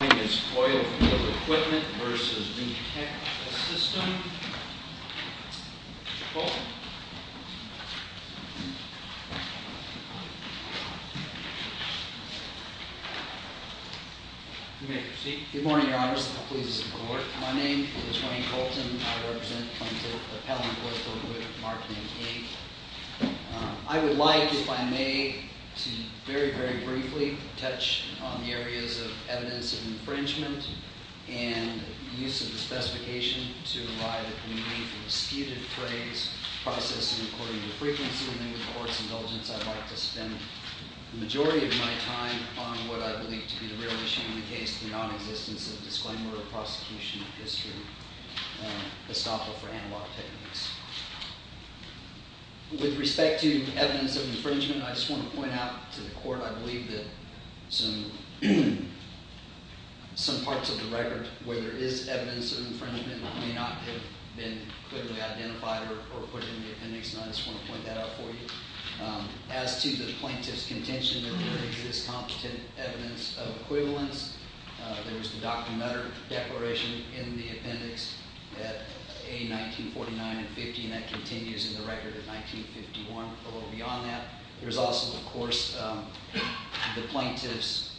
Good morning, your honors, please be seated. My name is Wayne Colton. I represent the Appellant Court of Appeals, and I'd like to begin with a brief explanation of the nature of the infringement and use of the specification to provide a brief and disputed phrase, processing according to frequency, and then with the Court's indulgence, I'd like to spend the majority of my time on what I believe to be the real issue in the case, the non-existence of disclaimer or prosecution of history, the stopper for analog techniques. With respect to evidence of infringement, I just want to point out to the Court I believe that some parts of the record where there is evidence of infringement may not have been clearly identified or put in the appendix, and I just want to point that out for you. As to the plaintiff's contention that there exists competent evidence of equivalence, there is the Dr. Mutter Declaration in the appendix at A. 1949 and 50, and that continues in the record at 1951, a little beyond that. There's also, of course, the plaintiff's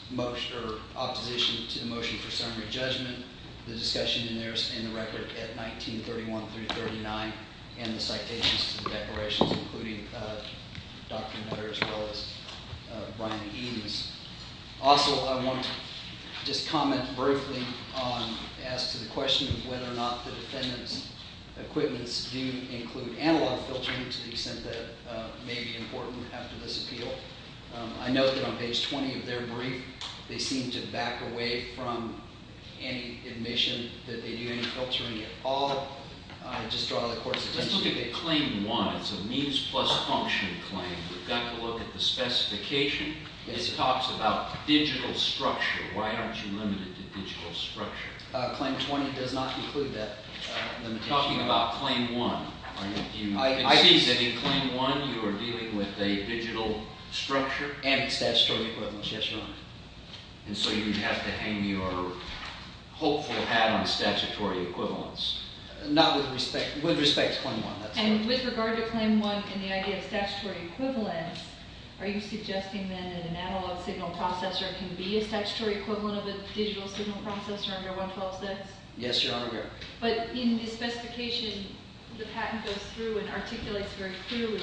opposition to the motion for summary judgment, the discussion in the record at 1931 through 39, and the citations to the declarations, including Dr. Mutter as well as Brian Eames. Also, I want to just comment briefly on – as to the question of whether or not the defendant's equipments do include analog filtering to the extent that may be important after this appeal. I note that on page 20 of their brief, they seem to back away from any admission that they do any filtering at all. I just draw the Court's attention to that. It's a means-plus-function claim. We've got to look at the specification. It talks about digital structure. Why aren't you limited to digital structure? Claim 20 does not include that limitation. I'm talking about Claim 1. You can see that in Claim 1, you are dealing with a digital structure. And statutory equivalence, yes, Your Honor. And so you have to hang your hopeful hat on statutory equivalence. Not with respect – with respect to Claim 1, that's correct. And with regard to Claim 1 and the idea of statutory equivalence, are you suggesting that an analog signal processor can be a statutory equivalent of a digital signal processor under 1126? Yes, Your Honor, we are. But in the specification, the patent goes through and articulates very clearly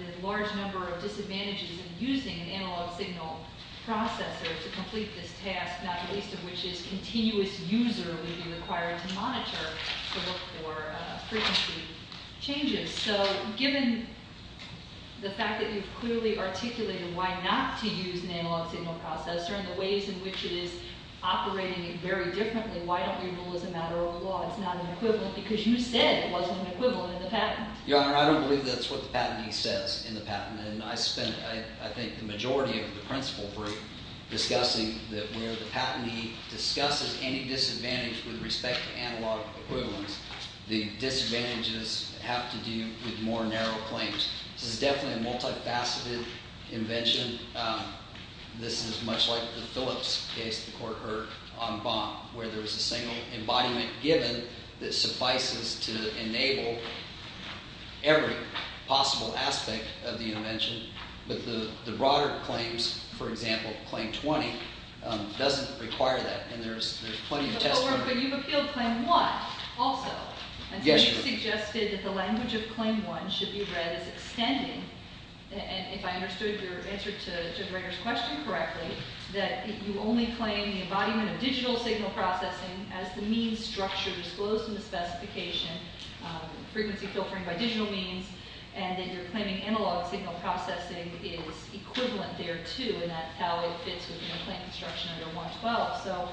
the large number of disadvantages in using an analog signal processor to complete this task, not least of which is continuous user would be required to monitor to look for frequency changes. So given the fact that you've clearly articulated why not to use an analog signal processor and the ways in which it is operating very differently, why don't we rule as a matter of law it's not an equivalent because you said it wasn't an equivalent in the patent? Your Honor, I don't believe that's what the patentee says in the patent. And I spent I think the majority of the principal group discussing that where the patentee discusses any disadvantage with respect to analog equivalence, the disadvantages have to do with more narrow claims. This is definitely a multifaceted invention. This is much like the Phillips case the court heard on Baum where there was a single embodiment given that suffices to enable every possible aspect of the invention. But the broader claims, for example, Claim 20, doesn't require that. And there's plenty of testimony. But you've appealed Claim 1 also. Yes, Your Honor. You suggested that the language of Claim 1 should be read as extending. And if I understood your answer to Judge Rader's question correctly, that you only claim the embodiment of digital signal processing as the mean structure disclosed in the specification, frequency filtering by digital means, and that you're claiming analog signal processing is equivalent there, too. And that's how it fits within a claim construction under 112. So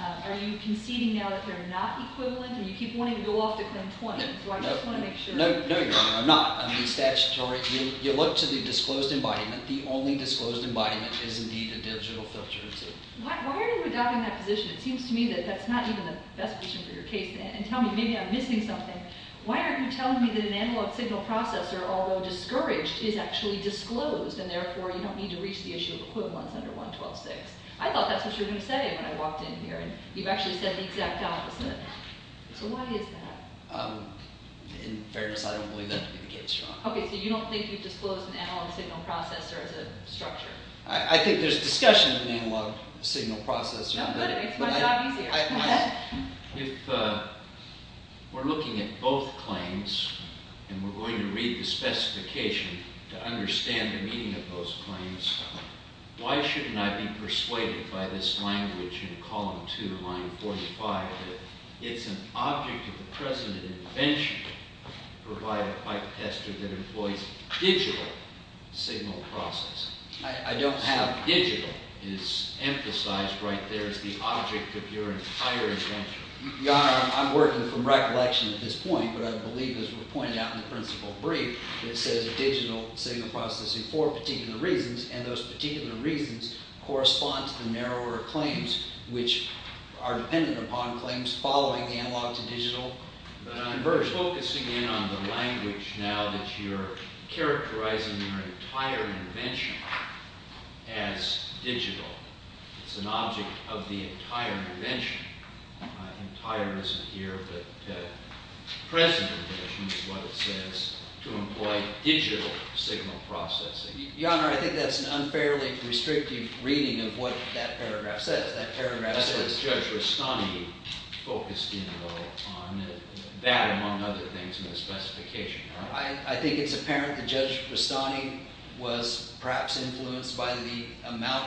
are you conceding now that they're not equivalent and you keep wanting to go off to Claim 20? So I just want to make sure. No, Your Honor. I'm not. I'm being statutory. You look to the disclosed embodiment. The only disclosed embodiment is indeed a digital filter. Why are you adopting that position? It seems to me that that's not even the best position for your case. And tell me. Maybe I'm missing something. Why aren't you telling me that an analog signal processor, although discouraged, is actually disclosed and therefore you don't need to reach the issue of equivalence under 112-6? I thought that's what you were going to say when I walked in here, and you've actually said the exact opposite. So why is that? In fairness, I don't believe that to be the case, Your Honor. Okay, so you don't think you've disclosed an analog signal processor as a structure? I think there's discussion of an analog signal processor. No, but it makes my job easier. If we're looking at both claims and we're going to read the specification to understand the meaning of those claims, why shouldn't I be persuaded by this language in column 2, line 45, that it's an object of the present invention to provide a pipe tester that employs digital signal processing? I don't have. Why digital is emphasized right there as the object of your entire invention. Your Honor, I'm working from recollection at this point, but I believe, as was pointed out in the principle brief, it says digital signal processing for particular reasons, and those particular reasons correspond to the narrower claims, which are dependent upon claims following the analog to digital. But I'm focusing in on the language now that you're characterizing your entire invention as digital. It's an object of the entire invention. Entire isn't here, but present invention is what it says to employ digital signal processing. Your Honor, I think that's an unfairly restrictive reading of what that paragraph says. That's what Judge Rastani focused in, though, on that, among other things, in the specification. I think it's apparent that Judge Rastani was perhaps influenced by the amount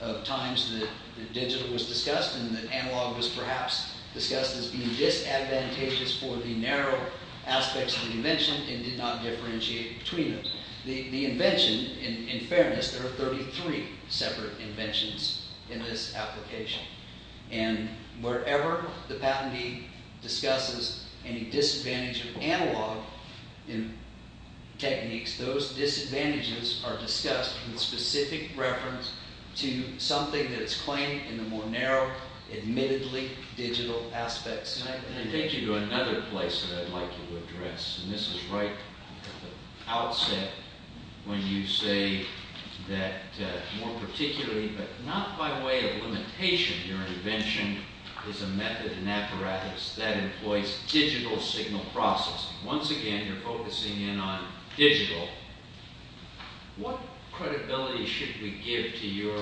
of times that digital was discussed and that analog was perhaps discussed as being disadvantageous for the narrow aspects of the invention and did not differentiate between them. The invention, in fairness, there are 33 separate inventions in this application, and wherever the patentee discusses any disadvantage of analog techniques, those disadvantages are discussed in specific reference to something that's claimed in the more narrow, admittedly digital aspects. And I take you to another place that I'd like you to address, and this is right at the outset when you say that more particularly, but not by way of limitation, your invention is a method, an apparatus that employs digital signal processing. Once again, you're focusing in on digital. What credibility should we give to your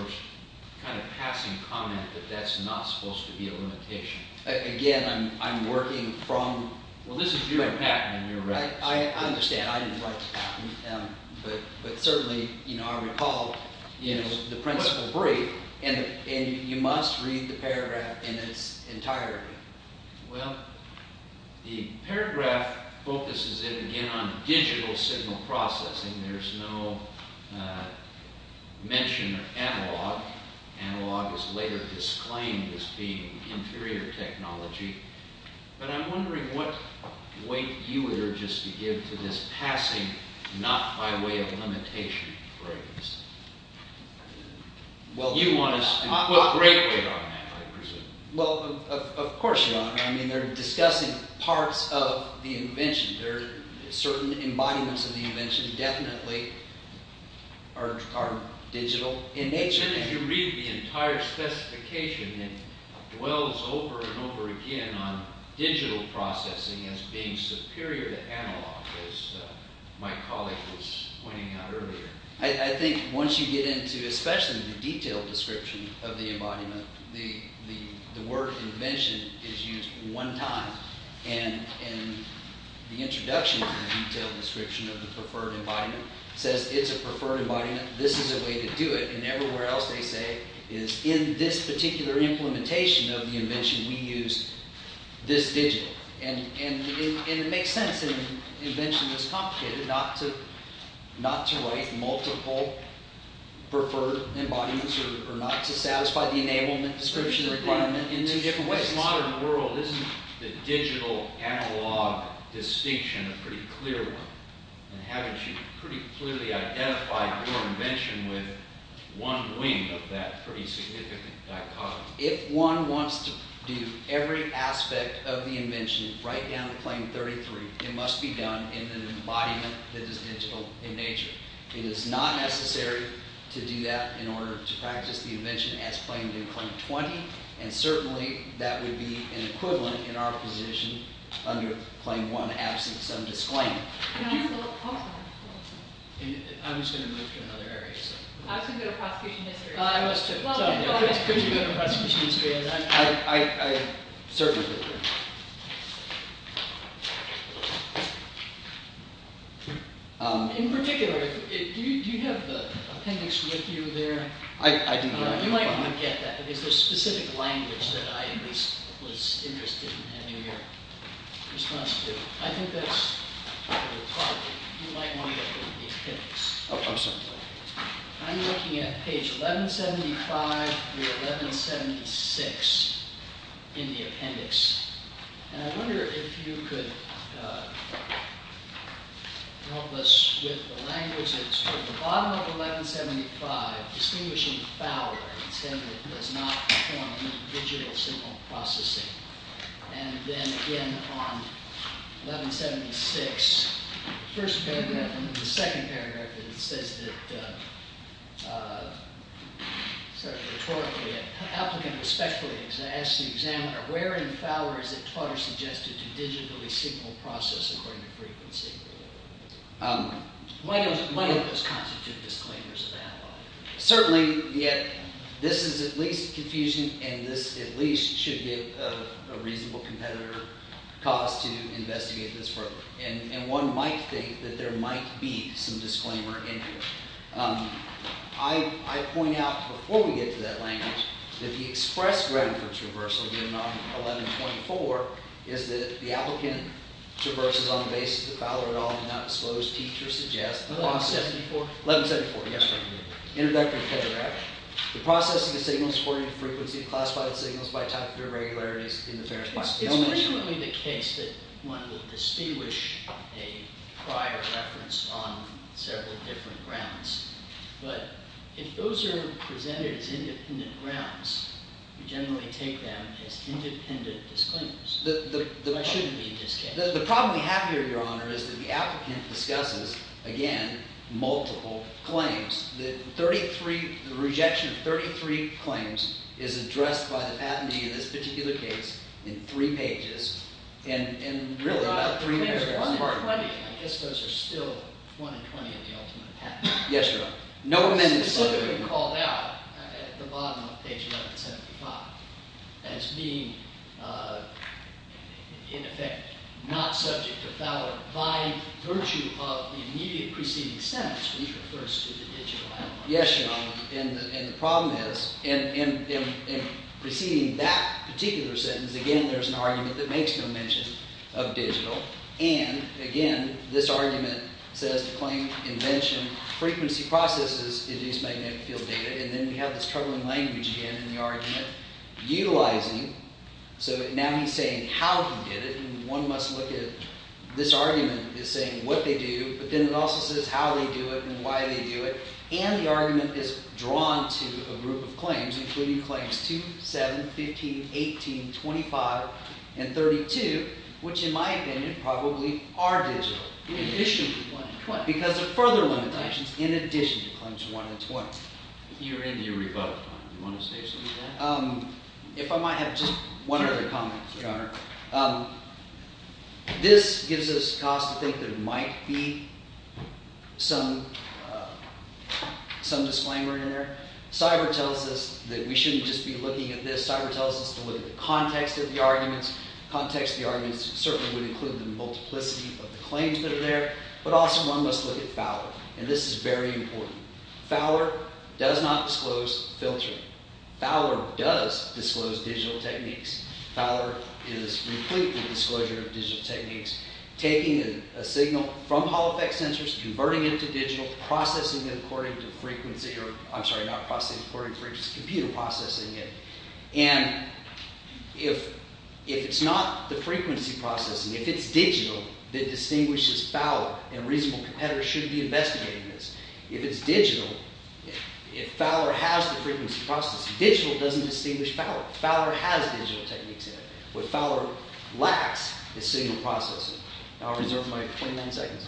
kind of passing comment that that's not supposed to be a limitation? Again, I'm working from… Well, this is your patent, and you're right. I understand. I didn't write the patent, but certainly I recall the principle brief, and you must read the paragraph in its entirety. Well, the paragraph focuses in again on digital signal processing. There's no mention of analog. Analog is later disclaimed as being inferior technology. But I'm wondering what weight you would urge us to give to this passing not by way of limitation phrase. You want us to put great weight on that, I presume. Well, of course, John. I mean they're discussing parts of the invention. There are certain embodiments of the invention definitely are digital in nature. As soon as you read the entire specification, it dwells over and over again on digital processing as being superior to analog, as my colleague was pointing out earlier. I think once you get into especially the detailed description of the embodiment, the word invention is used one time. And the introduction of the detailed description of the preferred embodiment says it's a preferred embodiment. This is a way to do it. And everywhere else they say is in this particular implementation of the invention, we use this digital. And it makes sense in an invention this complicated not to write multiple preferred embodiments or not to satisfy the enablement description requirement in two different ways. In this modern world, isn't the digital analog distinction a pretty clear one? And haven't you pretty clearly identified your invention with one wing of that pretty significant dichotomy? If one wants to do every aspect of the invention right down to Claim 33, it must be done in an embodiment that is digital in nature. It is not necessary to do that in order to practice the invention as claimed in Claim 20. And certainly that would be an equivalent in our position under Claim 1 absent some disclaiming. I was going to move to another area. I was going to go to prosecution history. I was too. Could you go to prosecution history? I certainly could. In particular, do you have the appendix with you there? I do. You might not get that because there's specific language that I at least was interested in having your response to. I think that's part of the problem. You might want to look at the appendix. Oh, I'm sorry. I'm looking at page 1175 through 1176 in the appendix. And I wonder if you could help us with the languages. So at the bottom of 1175, distinguishing foul and saying it does not perform digital signal processing. And then again on 1176, the first paragraph and then the second paragraph, it says that, sort of rhetorically, an applicant respectfully asks the examiner, where in foul is it clutter suggested to digitally signal process according to frequency? Why don't those constitute disclaimers of analog? Certainly, this is at least confusion and this at least should be a reasonable competitor cause to investigate this further. And one might think that there might be some disclaimer in here. I point out before we get to that language that the express ground for traversal given on 1124 is that the applicant traverses on the basis that foul or analog did not disclose, teacher suggests. 1174? 1174. Yes, sir. Introductory paragraph. The processing of signals according to frequency of classified signals by type of irregularities in the parent file. It's originally the case that one would distinguish a prior reference on several different grounds. But if those are presented as independent grounds, we generally take them as independent disclaimers. But it shouldn't be a disclaimer. The problem we have here, Your Honor, is that the applicant discusses, again, multiple claims. The rejection of 33 claims is addressed by the patentee in this particular case in three pages and really about three minutes. There's 120. I guess those are still 120 in the ultimate patent. Yes, Your Honor. It's specifically called out at the bottom of page 175 as being, in effect, not subject to foul or by virtue of the immediate preceding sentence, which refers to the digital analog. Yes, Your Honor. And the problem is in preceding that particular sentence, again, there's an argument that makes no mention of digital. And, again, this argument says the claim invention frequency processes induce magnetic field data. And then we have this troubling language again in the argument, utilizing. So now he's saying how he did it. And one must look at it. This argument is saying what they do. But then it also says how they do it and why they do it. And the argument is drawn to a group of claims, including claims 2, 7, 15, 18, 25, and 32, which, in my opinion, probably are digital. In addition to 120. Because of further limitations in addition to claims 120. You're into your rebuttal time. Do you want to say something to that? This gives us cause to think there might be some disclaimer in there. Cyber tells us that we shouldn't just be looking at this. Cyber tells us to look at the context of the arguments. Context of the arguments certainly would include the multiplicity of the claims that are there. But also one must look at foul. And this is very important. Foul does not disclose filtering. Foul does disclose digital techniques. Fowler is completely disclosure of digital techniques. Taking a signal from hall effect sensors, converting it to digital, processing it according to frequency. I'm sorry, not processing according to frequency. Computer processing it. And if it's not the frequency processing, if it's digital, that distinguishes foul. And reasonable competitors shouldn't be investigating this. If it's digital, if Fowler has the frequency processing. Digital doesn't distinguish foul. Fowler has digital techniques in it. What Fowler lacks is signal processing. I'll reserve my 29 seconds.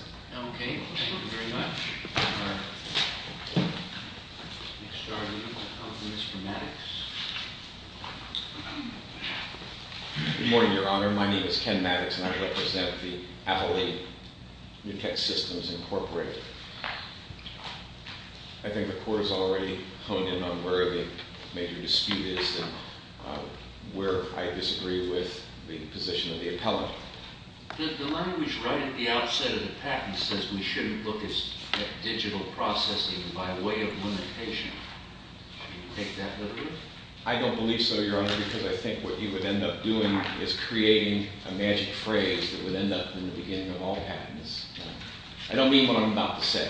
Okay. Thank you very much. Good morning, Your Honor. My name is Ken Maddox, and I represent the Atholete Nutek Systems Incorporated. I think the court has already honed in on where the major dispute is and where I disagree with the position of the appellant. The line was right at the outset of the patent. It says we shouldn't look at digital processing by way of limitation. Do you take that literally? I don't believe so, Your Honor, because I think what you would end up doing is creating a magic phrase that would end up in the beginning of all patents. I don't mean what I'm about to say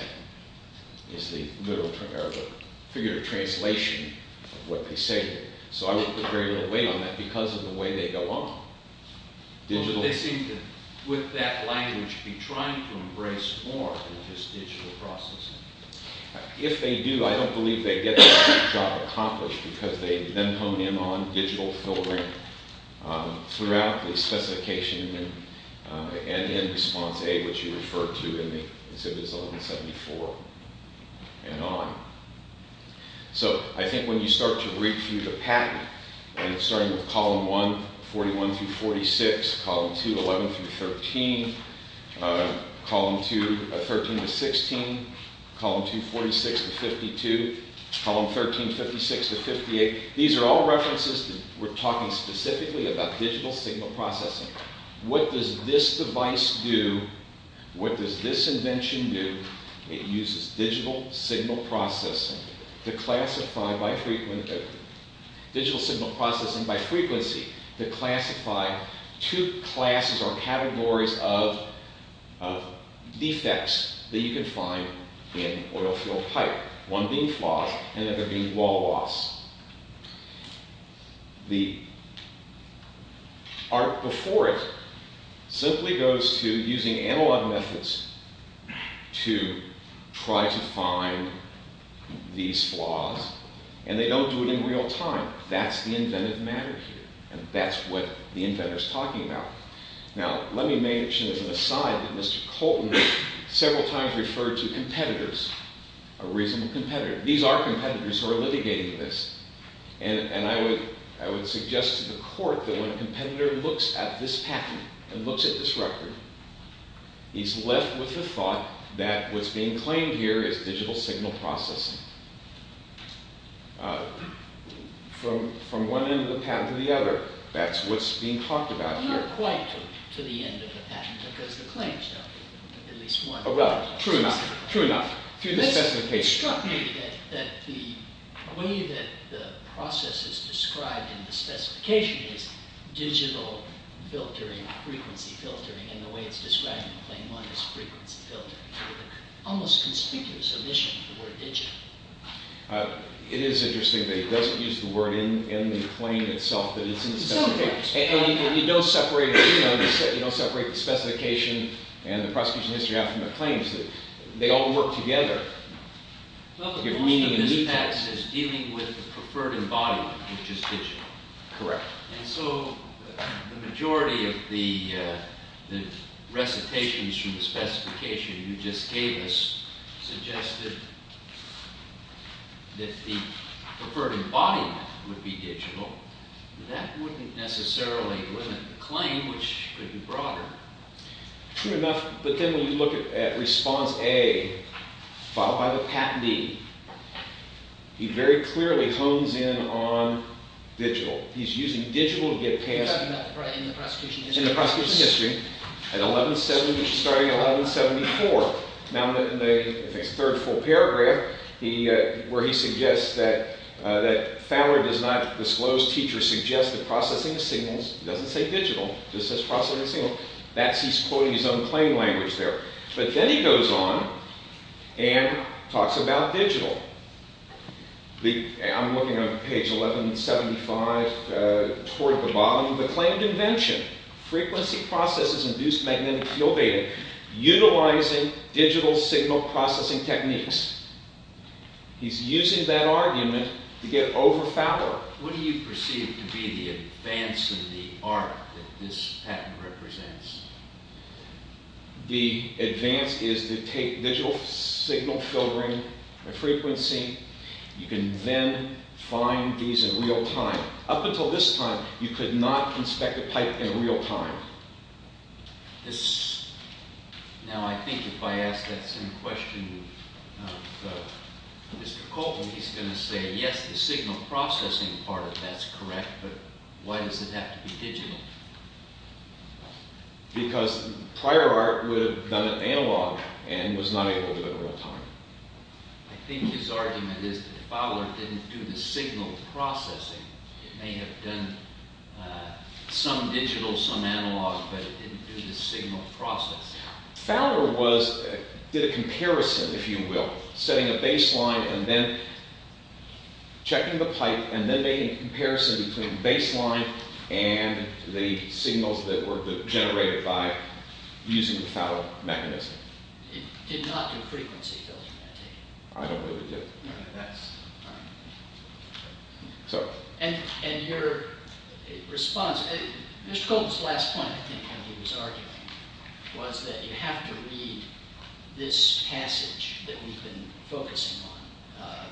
is the literal or the figurative translation of what they say here. So I wouldn't put very little weight on that because of the way they go on. Well, but they seem to, with that language, be trying to embrace more than just digital processing. If they do, I don't believe they get the job accomplished because they then hone in on digital filtering throughout the specification and in response A, which you referred to in the Exhibits 1174 and on. So I think when you start to review the patent, starting with Column 1, 41 through 46, Column 2, 11 through 13, Column 2, 13 to 16, Column 2, 46 to 52, Column 13, 56 to 58, these are all references that we're talking specifically about digital signal processing. What does this device do? What does this invention do? It uses digital signal processing to classify by frequency, digital signal processing by frequency, to classify two classes or categories of defects that you can find in oil field pipe. One being flaws and the other being wall loss. The art before it simply goes to using analog methods to try to find these flaws, and they don't do it in real time. That's the inventive matter here, and that's what the inventor's talking about. Now, let me mention as an aside that Mr. Colton several times referred to competitors, a reasonable competitor. These are competitors who are litigating this. And I would suggest to the court that when a competitor looks at this patent and looks at this record, he's left with the thought that what's being claimed here is digital signal processing. From one end of the patent to the other, that's what's being talked about here. Not quite to the end of the patent, because the claims, though, at least one. Right. True enough. True enough. It struck me that the way that the process is described in the specification is digital filtering, frequency filtering, and the way it's described in Claim 1 is frequency filtering. It almost conspicuously omits the word digital. It is interesting that he doesn't use the word in the claim itself that is in the specification. Sometimes. And you don't separate the specification and the prosecution history out from the claims. They all work together. Well, the question of this patent is dealing with the preferred embodiment, which is digital. Correct. And so the majority of the recitations from the specification you just gave us suggested that the preferred embodiment would be digital. That wouldn't necessarily limit the claim, which could be broader. True enough, but then when you look at response A, followed by the patent B, he very clearly hones in on digital. He's using digital to get past— In the prosecution history. In the prosecution history, starting at 1174. Now in the third full paragraph, where he suggests that Fowler does not disclose teacher suggested processing signals, he doesn't say digital. He just says processing signals. He's quoting his own claim language there. But then he goes on and talks about digital. I'm looking on page 1175 toward the bottom of the claim. Frequency processes induced magnetic field data utilizing digital signal processing techniques. He's using that argument to get over Fowler. What do you perceive to be the advance in the art that this patent represents? The advance is to take digital signal filtering and frequency. You can then find these in real time. Up until this time, you could not inspect a pipe in real time. Now I think if I ask that same question of Mr. Colton, he's going to say, yes, the signal processing part of that's correct, but why does it have to be digital? Because prior art would have done it analog and was not able to do it in real time. I think his argument is that Fowler didn't do the signal processing. It may have done some digital, some analog, but it didn't do the signal processing. Fowler did a comparison, if you will, setting a baseline and then checking the pipe and then made a comparison between baseline and the signals that were generated by using the Fowler mechanism. It did not do frequency filtering, I take it. I don't believe it did. Mr. Colton's last point, I think, when he was arguing was that you have to read this passage that we've been focusing on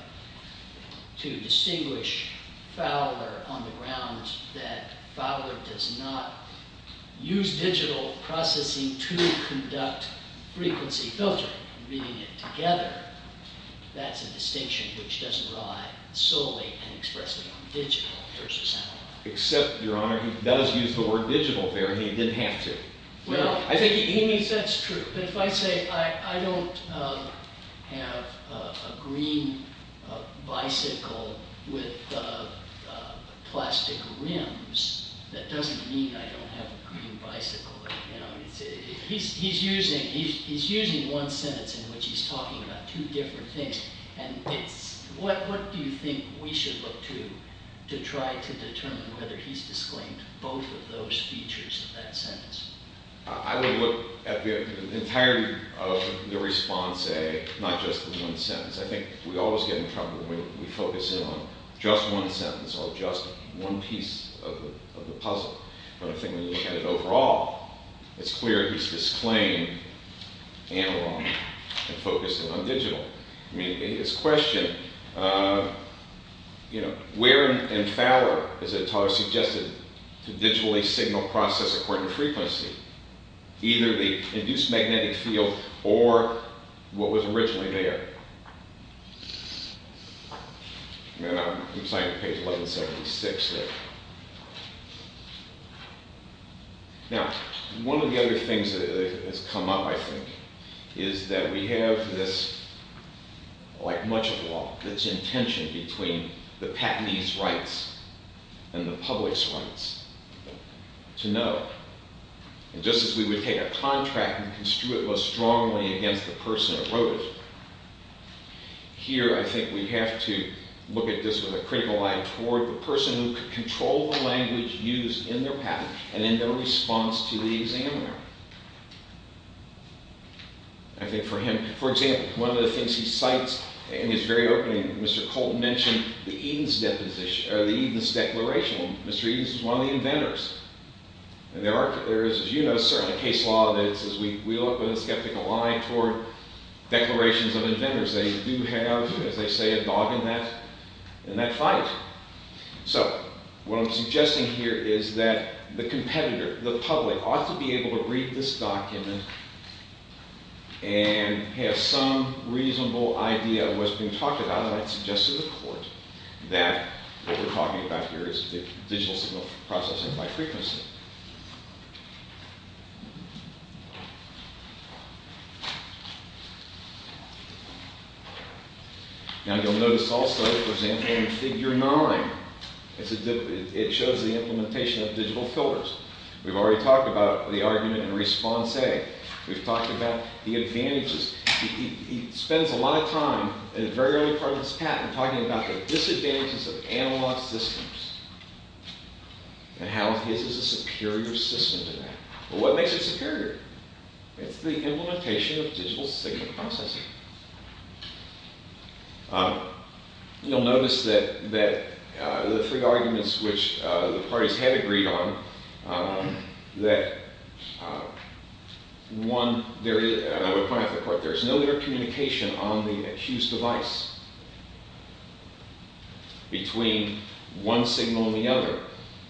to distinguish Fowler on the ground, that Fowler does not use digital processing to conduct frequency filtering. Reading it together, that's a distinction which doesn't rely solely and expressively on digital versus analog. Except, Your Honor, he does use the word digital there, and he didn't have to. That's true, but if I say I don't have a green bicycle with plastic rims, that doesn't mean I don't have a green bicycle. He's using one sentence in which he's talking about two different things. What do you think we should look to to try to determine whether he's disclaimed both of those features of that sentence? I would look at the entirety of the response, not just the one sentence. I think we always get in trouble when we focus in on just one sentence or just one piece of the puzzle. But I think when you look at it overall, it's clear he's disclaimed analog and focused on digital. His question, where in Fowler is it suggested to digitally signal process according to frequency? Either the induced magnetic field or what was originally there. I'm signing page 1176 there. Now, one of the other things that has come up, I think, is that we have this, like much of law, this intention between the patentee's rights and the public's rights to know. And just as we would take a contract and construe it most strongly against the person who wrote it, here I think we have to look at this with a critical eye toward the person who could control the language used in their patent and in their response to the examiner. I think for him, for example, one of the things he cites in his very opening, Mr. Colton mentioned the Edens Declaration. Well, Mr. Edens is one of the inventors. And there is, as you know, certainly case law that says we look with a skeptical eye toward declarations of inventors. They do have, as they say, a dog in that fight. So what I'm suggesting here is that the competitor, the public, ought to be able to read this document and have some reasonable idea of what's being talked about. And I'd suggest to the court that what we're talking about here is the digital signal processing by frequency. Now, you'll notice also, for example, in Figure 9, it shows the implementation of digital filters. We've already talked about the argument in Response A. We've talked about the advantages. He spends a lot of time in the very early part of his patent talking about the disadvantages of analog systems and how his is a superior system to that. Well, what makes it superior? It's the implementation of digital signal processing. You'll notice that the three arguments which the parties had agreed on, that one, I would point out to the court, there's no communication on the accused device between one signal and the other.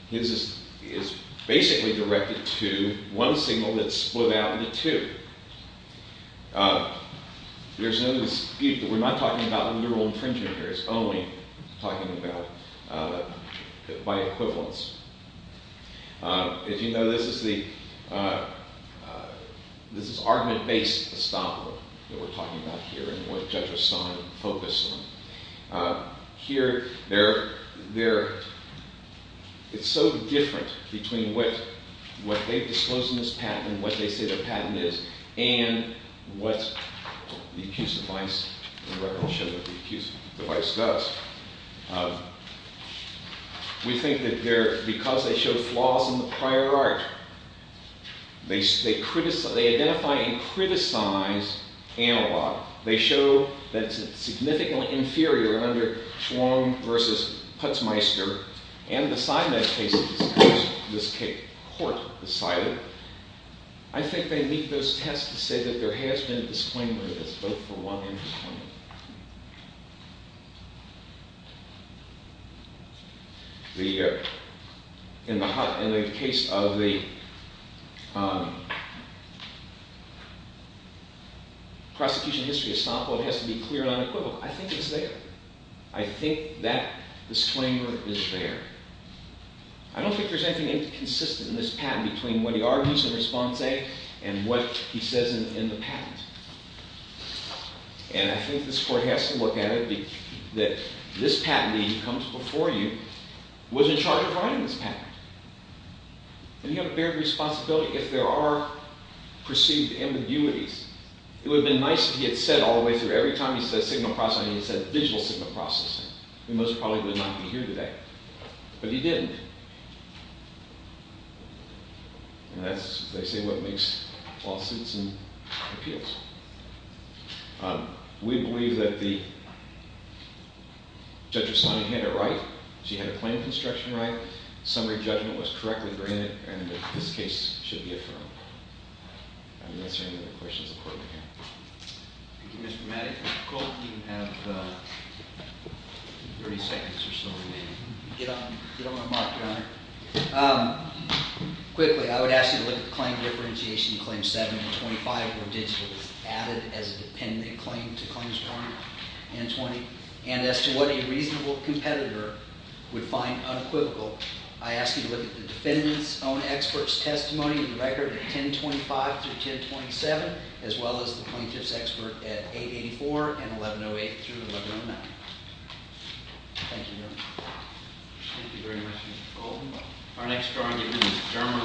His is basically directed to one signal that's split out into two. There's no dispute that we're not talking about neural infringement here. It's only talking about by equivalence. As you know, this is argument-based establishment that we're talking about here and what Judge Rastan focused on. Here, it's so different between what they've disclosed in this patent and what they say their patent is and what the accused device does. We think that because they show flaws in the prior art, they identify and criticize analog. They show that it's significantly inferior under Schwarm versus Putzmeister and beside that case in this case, the court decided. I think they meet those tests to say that there has been a disclaimer of this, both for one and for 20. In the case of the prosecution history of Stompo, it has to be clear and unequivocal. I think it's there. I think that disclaimer is there. I don't think there's anything inconsistent in this patent between what he argues in response A and what he says in the patent. And I think this court has to look at it that this patentee who comes before you was in charge of writing this patent. And he had a bared responsibility. If there are perceived ambiguities, it would have been nice if he had said all the way through. Every time he said signal processing, he said digital signal processing. He most probably would not be here today. But he didn't. And that's, they say, what makes lawsuits and appeals. We believe that the judge responded in a right. She had a claim of construction right. Summary judgment was correctly granted. And this case should be affirmed. I'm not answering any of the questions the court began. Thank you, Mr. Maddy. If I recall, you have 30 seconds or so remaining. You don't want to mock, Your Honor. Quickly, I would ask you to look at the claim differentiation. Claim 7 and 25 were digitally added as a dependent claim to claims 1 and 20. And as to what a reasonable competitor would find unequivocal, I ask you to look at the defendant's own expert's testimony in the record of 1025 through 1027, as well as the plaintiff's expert at 884 and 1108 through 1109. Thank you, Your Honor. Thank you very much, Mr. Goldman. Our next drawing is German v. Department of Transportation.